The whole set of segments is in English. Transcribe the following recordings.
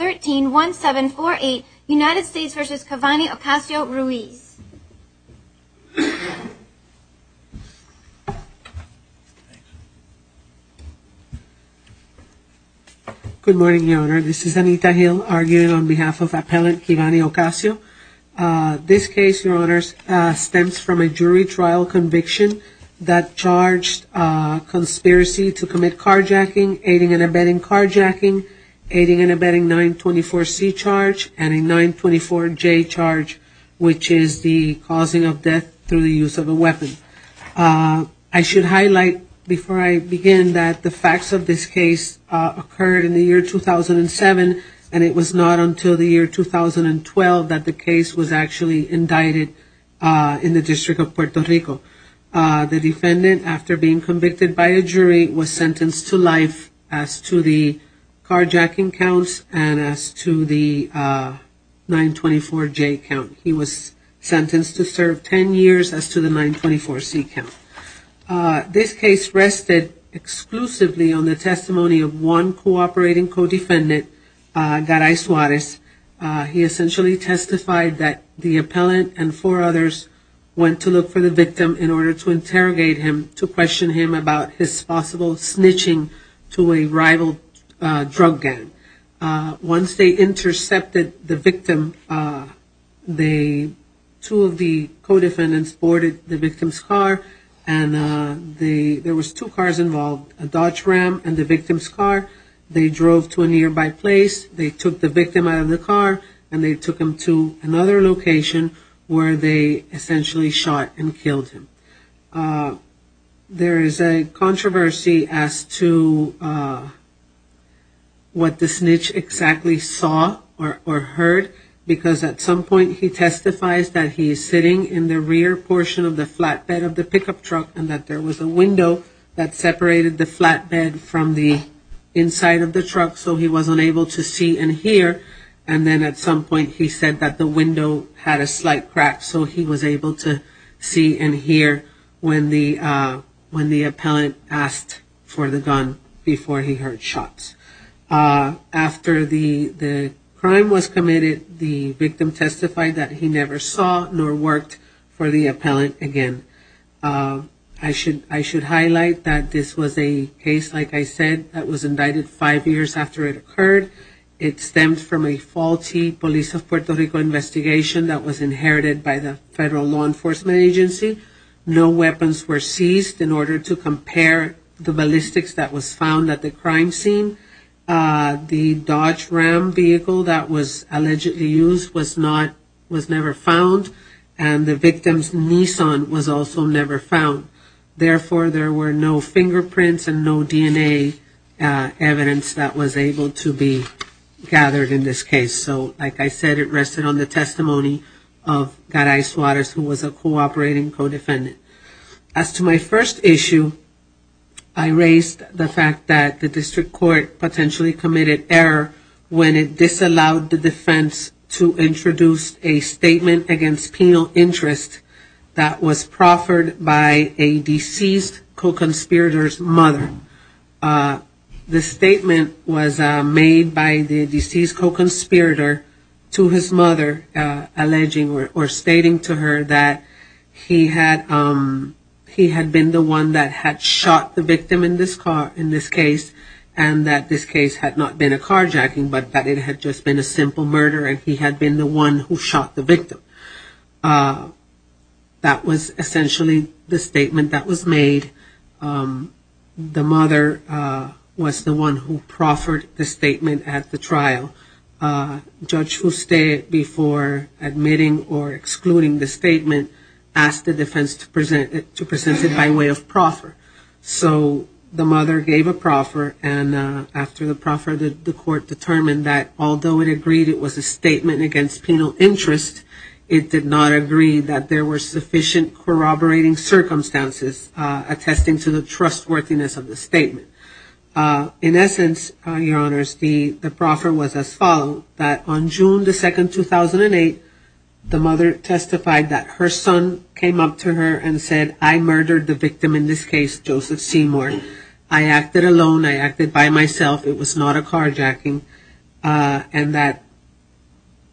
131748 United States v. Kevani Ocasio-Ruiz Good morning, Your Honor. This is Anita Hill, arguing on behalf of Appellant Kevani Ocasio. This case, Your Honors, stems from a jury trial conviction that charged conspiracy to commit carjacking, aiding and abetting carjacking, aiding and abetting 924C charge, and a 924J charge, which is the causing of death through the use of a weapon. I should highlight, before I begin, that the facts of this case occurred in the year 2007, and it was not until the year 2012 that the case was actually indicted in the District of Puerto Rico. The defendant, after being convicted by a jury, was sentenced to life as to the carjacking counts and as to the 924J count. He was sentenced to serve 10 years as to the 924C count. This case rested exclusively on the testimony of one cooperating co-defendant, Garay Suarez. He essentially testified that the appellant and four others went to look for the victim in order to interrogate him, to question him about his possible snitching to a rival drug gang. Once they intercepted the victim, two of the co-defendants boarded the victim's car, and there was two cars involved, a Dodge Ram and the victim's car. They drove to a nearby place, they took the victim out of the car, and they took him to another location where they essentially shot and killed him. There is a controversy as to what the snitch exactly saw or heard, because at some point he testifies that he is sitting in the rear portion of the flatbed of the pickup truck and that there was a window that separated the flatbed from the inside of the truck, so he was unable to see and hear, and then at some point he said that the window had a slight crack, so he was able to see and hear when the appellant asked for the gun before he heard shots. After the crime was committed, the victim testified that he never saw nor worked for the appellant again. I should highlight that this was a case, like I said, that was indicted five years after it occurred. It stemmed from a faulty Police of Puerto Rico investigation that was inherited by the Federal Law Enforcement Agency. No weapons were seized in order to compare the ballistics that was found at the crime scene. The Dodge Ram vehicle that was allegedly used was never found, and the victim's Nissan was also never found. Therefore, there were no fingerprints and no DNA evidence that was able to be gathered in this case. So, like I said, it rested on the testimony of Guy Rice-Waters, who was a cooperating co-defendant. As to my first issue, I raised the fact that the District Court potentially committed error when it disallowed the defense to introduce a statement against penal interest that was proffered by a deceased co-conspirator's mother. The statement was made by the deceased co-conspirator to his mother, alleging or stating to her that he had been the one that had shot the victim in this case, and that this case had not been a carjacking, but that it had just been a simple murder, and he had been the one who shot the victim. That was essentially the statement that was made. The mother was the one who proffered the statement at the trial. Judge Fouste, before admitting or excluding the statement, asked the defense to present it by way of proffer. So the mother gave a proffer, and after the proffer, the court determined that although it agreed it was a statement against penal interest, it did not agree that there were sufficient corroborating circumstances attesting to the trustworthiness of the statement. In essence, Your Honors, the proffer was as follows, that on June 2, 2008, the mother testified that her son came up to her and said, I murdered the victim in this case, Joseph Seymour. I acted alone, I acted by myself, it was not a carjacking, and that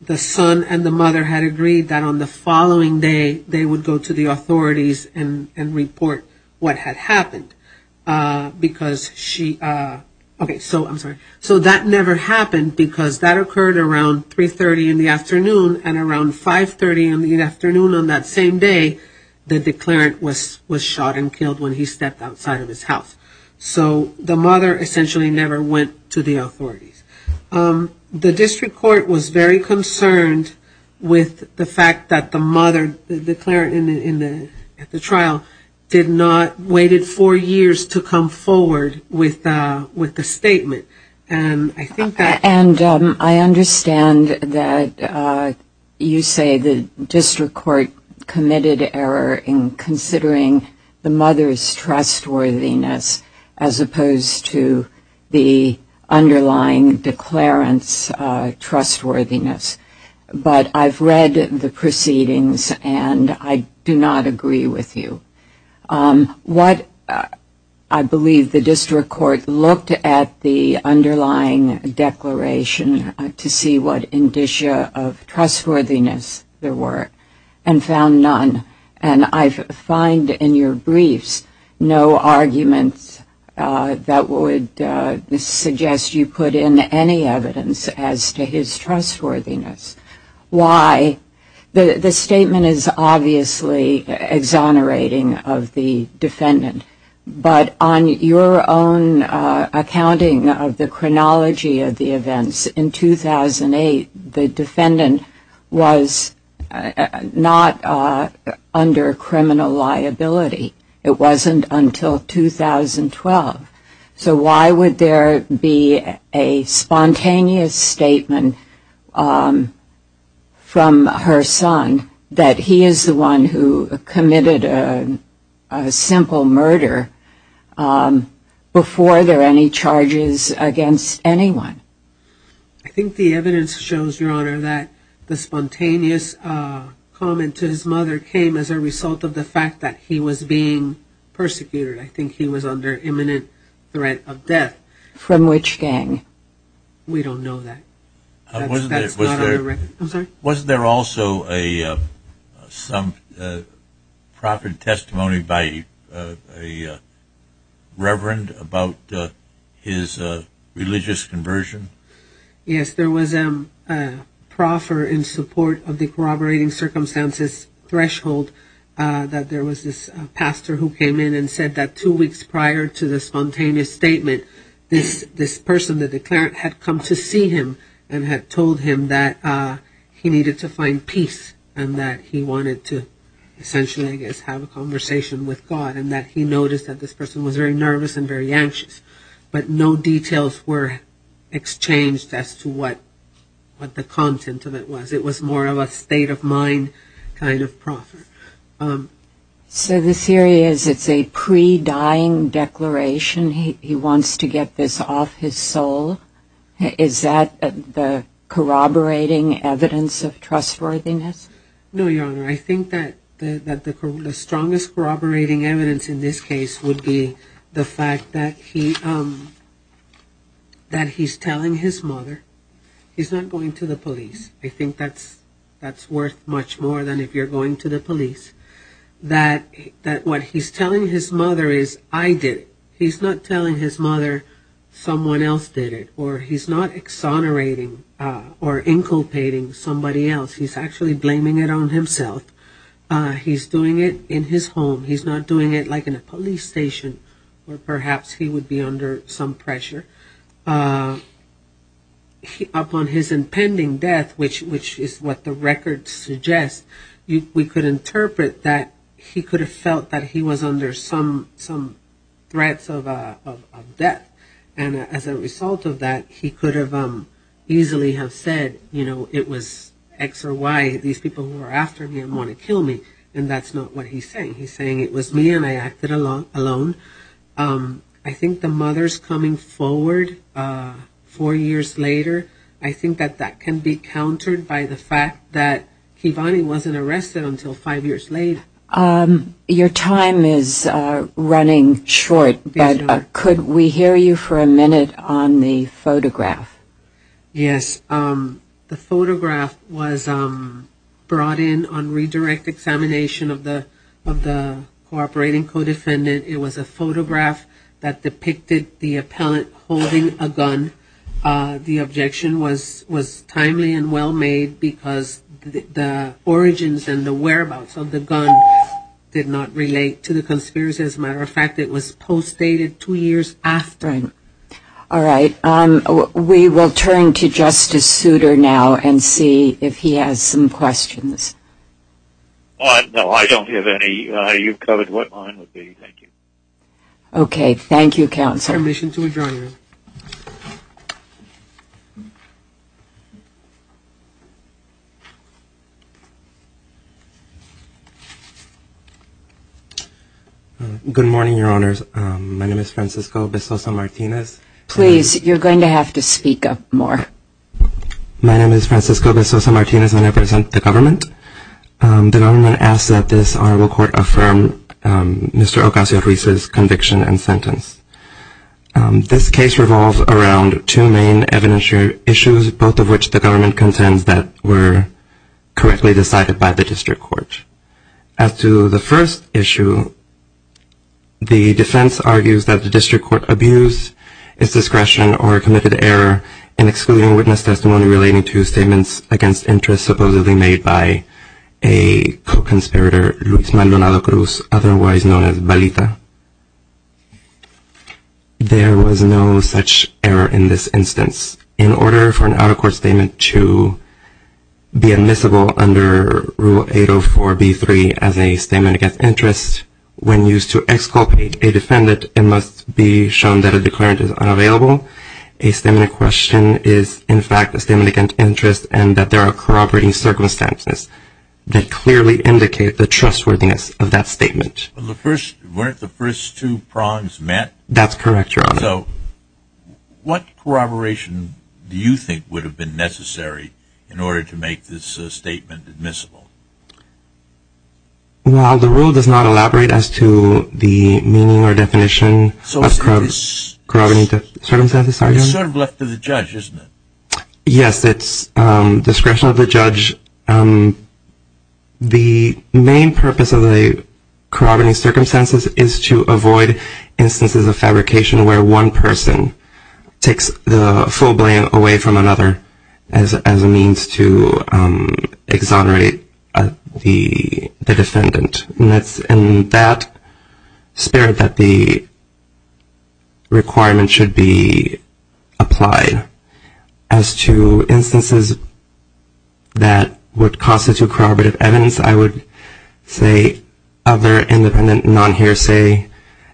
the son and the mother had agreed that on the following day, they would go to the authorities and report what had happened. So that never happened because that occurred around 3.30 in the afternoon and around 5.30 in the afternoon on that same day, the declarant was shot and killed when he stepped outside of his house. So the mother essentially never went to the authorities. The district court was very concerned with the fact that the mother, the declarant at the trial, did not, waited four years to come forward with the statement. And I understand that you say the district court committed error in considering the mother's trustworthiness as opposed to the underlying declarant's trustworthiness. But I've read the proceedings and I do not agree with you. What I believe the district court looked at the underlying declaration to see what indicia of trustworthiness there were and found none. And I find in your briefs no arguments that would suggest you put in any evidence as to his trustworthiness. The statement is obviously exonerating of the defendant, but on your own accounting of the chronology of the events, in 2008 the defendant was not under criminal liability. It wasn't until 2012. So why would there be a spontaneous statement from her son that he is the one who committed a simple murder before there are any charges against anyone? I think the evidence shows, Your Honor, that the spontaneous comment to his mother came as a result of the fact that he was being persecuted. I think he was under imminent threat of death. From which gang? We don't know that. Wasn't there also some proper testimony by a reverend about his religious conversion? Yes, there was a proffer in support of the corroborating circumstances threshold that there was this pastor who came in and said that two weeks prior to the spontaneous statement, this person, the declarant, had come to see him and had told him that he needed to find peace and that he wanted to essentially, I guess, have a conversation with God and that he noticed that this person was very nervous and very anxious. But no details were exchanged as to what the content of it was. It was more of a state of mind kind of proffer. So the theory is it's a pre-dying declaration. He wants to get this off his soul. Is that the corroborating evidence of trustworthiness? No, Your Honor. I think that the strongest corroborating evidence in this case would be the fact that he's telling his mother. He's not going to the police. I think that's worth much more than if you're going to the police. That what he's telling his mother is, I did it. He's doing it in his home. He's not doing it like in a police station where perhaps he would be under some pressure. Upon his impending death, which is what the record suggests, we could interpret that he could have felt that he was under some threats of death. And as a result of that, he could have easily have said, you know, it was X or Y, these people who are after me and want to kill me. And that's not what he's saying. He's saying it was me and I acted alone. I think the mother's coming forward four years later, I think that that can be countered by the fact that Kivani wasn't arrested until five years late. Your time is running short. Could we hear you for a minute on the photograph? Yes. The photograph was brought in on redirect examination of the cooperating co-defendant. It was a photograph that depicted the appellant holding a gun. The objection was timely and well-made because the origins and the whereabouts of the gun did not relate to the conspiracy. As a matter of fact, it was postdated two years after. All right. We will turn to Justice Souter now and see if he has some questions. No, I don't have any. You've covered what mine would be. Thank you. Okay. Thank you, Counselor. I'll now give permission to adjourn. Good morning, Your Honors. My name is Francisco Bistoso Martinez. Please, you're going to have to speak up more. My name is Francisco Bistoso Martinez, and I represent the government. The government asks that this honorable court affirm Mr. Ocasio-Ruiz's conviction and sentence. This case revolves around two main evidentiary issues, both of which the government contends that were correctly decided by the district court. As to the first issue, the defense argues that the district court abused its discretion or committed error in excluding witness testimony relating to statements against interest supposedly made by a co-conspirator, Luis Maldonado Cruz, otherwise known as Balita. There was no such error in this instance. In order for an out-of-court statement to be admissible under Rule 804b-3 as a statement against interest, when used to exculpate a defendant, it must be shown that a declarant is unavailable. A statement in question is, in fact, a statement against interest and that there are corroborating circumstances that clearly indicate the trustworthiness of that statement. Weren't the first two prongs met? That's correct, Your Honor. So what corroboration do you think would have been necessary in order to make this statement admissible? Well, the rule does not elaborate as to the meaning or definition of corroborating circumstances. It's sort of left to the judge, isn't it? Yes, it's discretion of the judge. The main purpose of the corroborating circumstances is to avoid instances of fabrication where one person takes the full blame away from another as a means to exonerate the defendant. And it's in that spirit that the requirement should be applied as to instances that would constitute corroborative evidence. I would say other independent, non-hearsay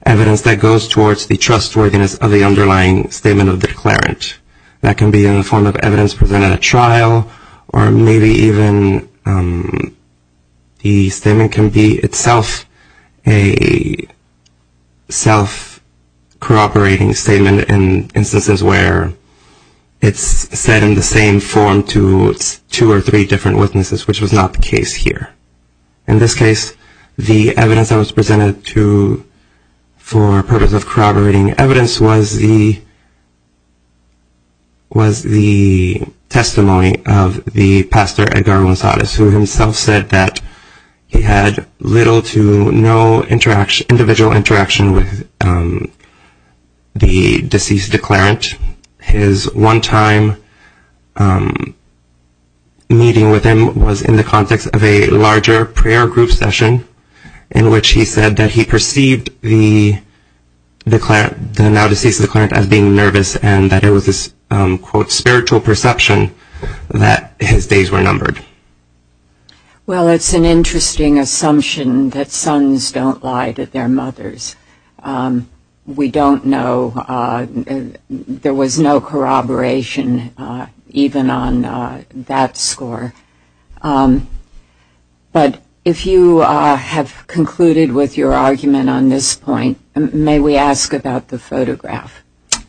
evidence that goes towards the trustworthiness of the underlying statement of the declarant. That can be in the form of evidence presented at trial or maybe even the statement can be itself a self-corroborating statement in instances where it's said in the same form to two or three different witnesses, which was not the case here. In this case, the evidence that was presented for purpose of corroborating evidence was the testimony of the pastor Edgar Monsadis who himself said that he had little to no individual interaction with the deceased declarant. His one-time meeting with him was in the context of a larger prayer group session in which he said that he perceived the now-deceased declarant as being nervous and that it was this, quote, spiritual perception that his days were numbered. Well, it's an interesting assumption that sons don't lie to their mothers. We don't know. There was no corroboration even on that score. But if you have concluded with your argument on this point, may we ask about the photograph?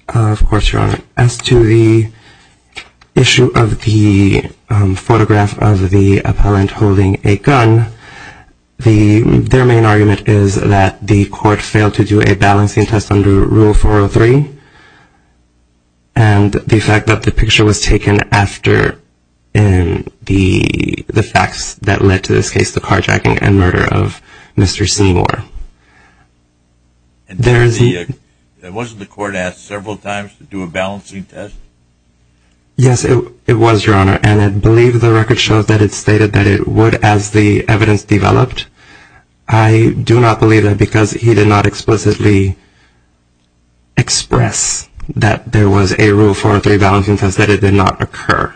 Of course, Your Honor. As to the issue of the photograph of the appellant holding a gun, their main argument is that the court failed to do a balancing test under Rule 403 and the fact that the picture was taken after the facts that led to this case, the carjacking and murder of Mr. Seymour. Wasn't the court asked several times to do a balancing test? Yes, it was, Your Honor, and I believe the record shows that it stated that it would as the evidence developed. I do not believe that because he did not explicitly express that there was a Rule 403 balancing test, that it did not occur.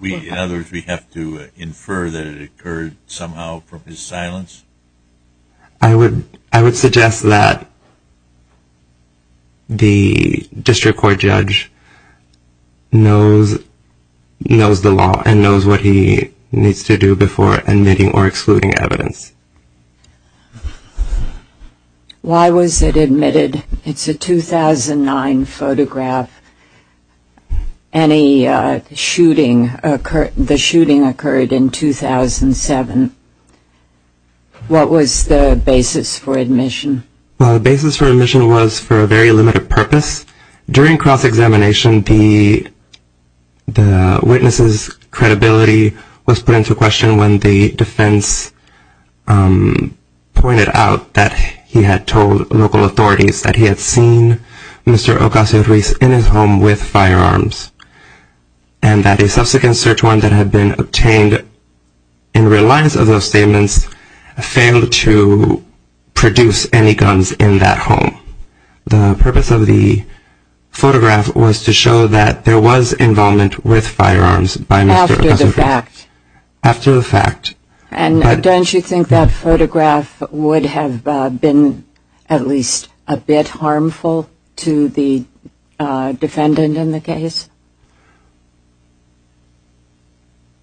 In other words, we have to infer that it occurred somehow from his silence? I would suggest that the district court judge knows the law and knows what he needs to do before admitting or excluding evidence. Why was it admitted? It's a 2009 photograph. The shooting occurred in 2007. What was the basis for admission? The basis for admission was for a very limited purpose. During cross-examination, the witness's credibility was put into question when the defense pointed out that he had told local authorities that he had seen Mr. Ocasio-Cortez in his home with firearms and that a subsequent search warrant that had been obtained in reliance of those statements failed to produce any guns in that home. The purpose of the photograph was to show that there was involvement with firearms by Mr. Ocasio-Cortez. And don't you think that photograph would have been at least a bit harmful to the defendant in the case?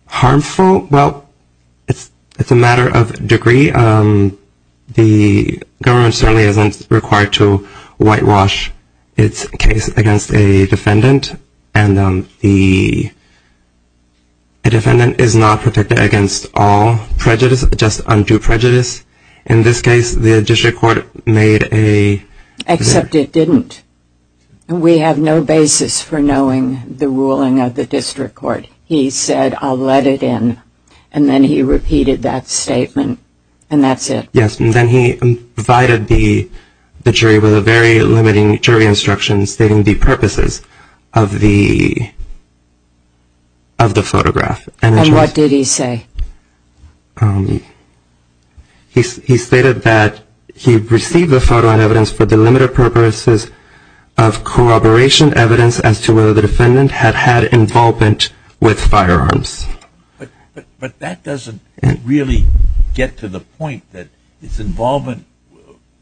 Harmful? Well, it's a matter of degree. The government certainly isn't required to whitewash its case against a defendant and the defendant is not protected against all prejudice, just undue prejudice. In this case, the district court made a... Except it didn't. We have no basis for knowing the ruling of the district court. He said, I'll let it in, and then he repeated that statement and that's it. Yes, and then he provided the jury with a very limiting jury instruction stating the purposes of the photograph. And what did he say? He stated that he received the photograph for the limited purposes of corroboration evidence as to whether the defendant had had involvement with firearms. But that doesn't really get to the point that it's involvement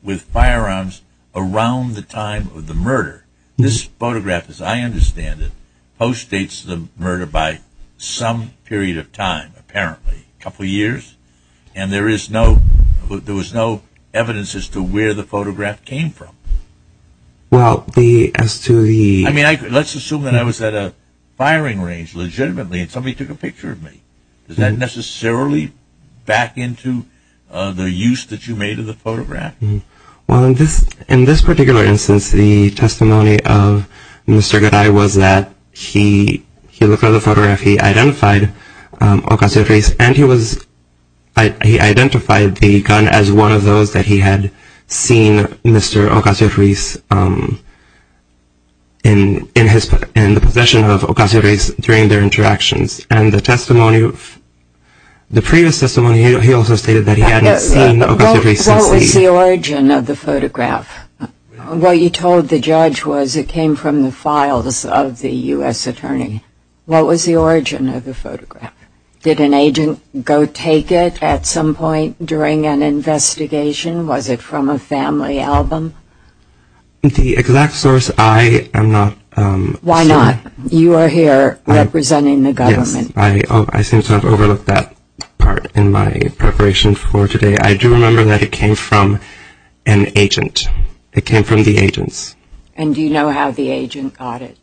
with firearms around the time of the murder. This photograph, as I understand it, postdates the murder by some period of time, apparently, a couple years, and there was no evidence as to where the photograph came from. Let's assume that I was at a firing range legitimately and somebody took a picture of me. Does that necessarily back into the use that you made of the photograph? Well, in this particular instance, the testimony of Mr. Garay was that he looked at the photograph, he identified Ocasio-Cortez, and he identified the gun as one of those that he had seen Mr. Ocasio-Cortez in the possession of Ocasio-Cortez during their interactions. What was the origin of the photograph? What you told the judge was it came from the files of the U.S. attorney. What was the origin of the photograph? Did an agent go take it at some point during an investigation? Was it from a family album? The exact source, I am not certain. Why not? You are here representing the government. Yes, I seem to have overlooked that part in my preparation for today. I do remember that it came from an agent. It came from the agents. And do you know how the agent got it?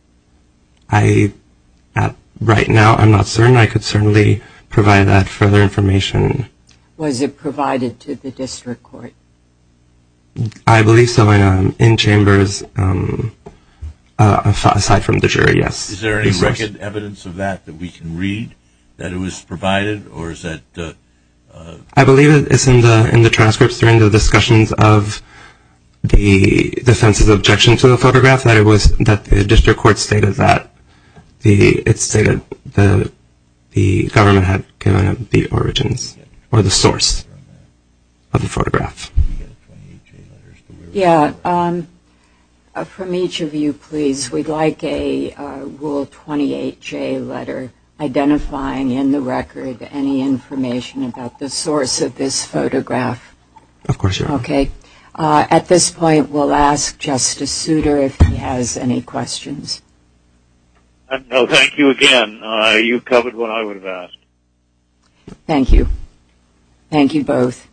Right now, I am not certain. I could certainly provide that further information. Was it provided to the district court? I believe so. In chambers, aside from the jury, yes. Is there any record evidence of that that we can read that it was provided? I believe it is in the transcripts during the discussions of the defense's objection to the photograph that the district court stated that the government had given the origins or the source of the photograph. From each of you, please, we would like a Rule 28J letter identifying in the record any information about the source of this photograph. Of course, Your Honor. At this point, we will ask Justice Souter if he has any questions. Thank you again. You covered what I would have asked. Thank you. Thank you both.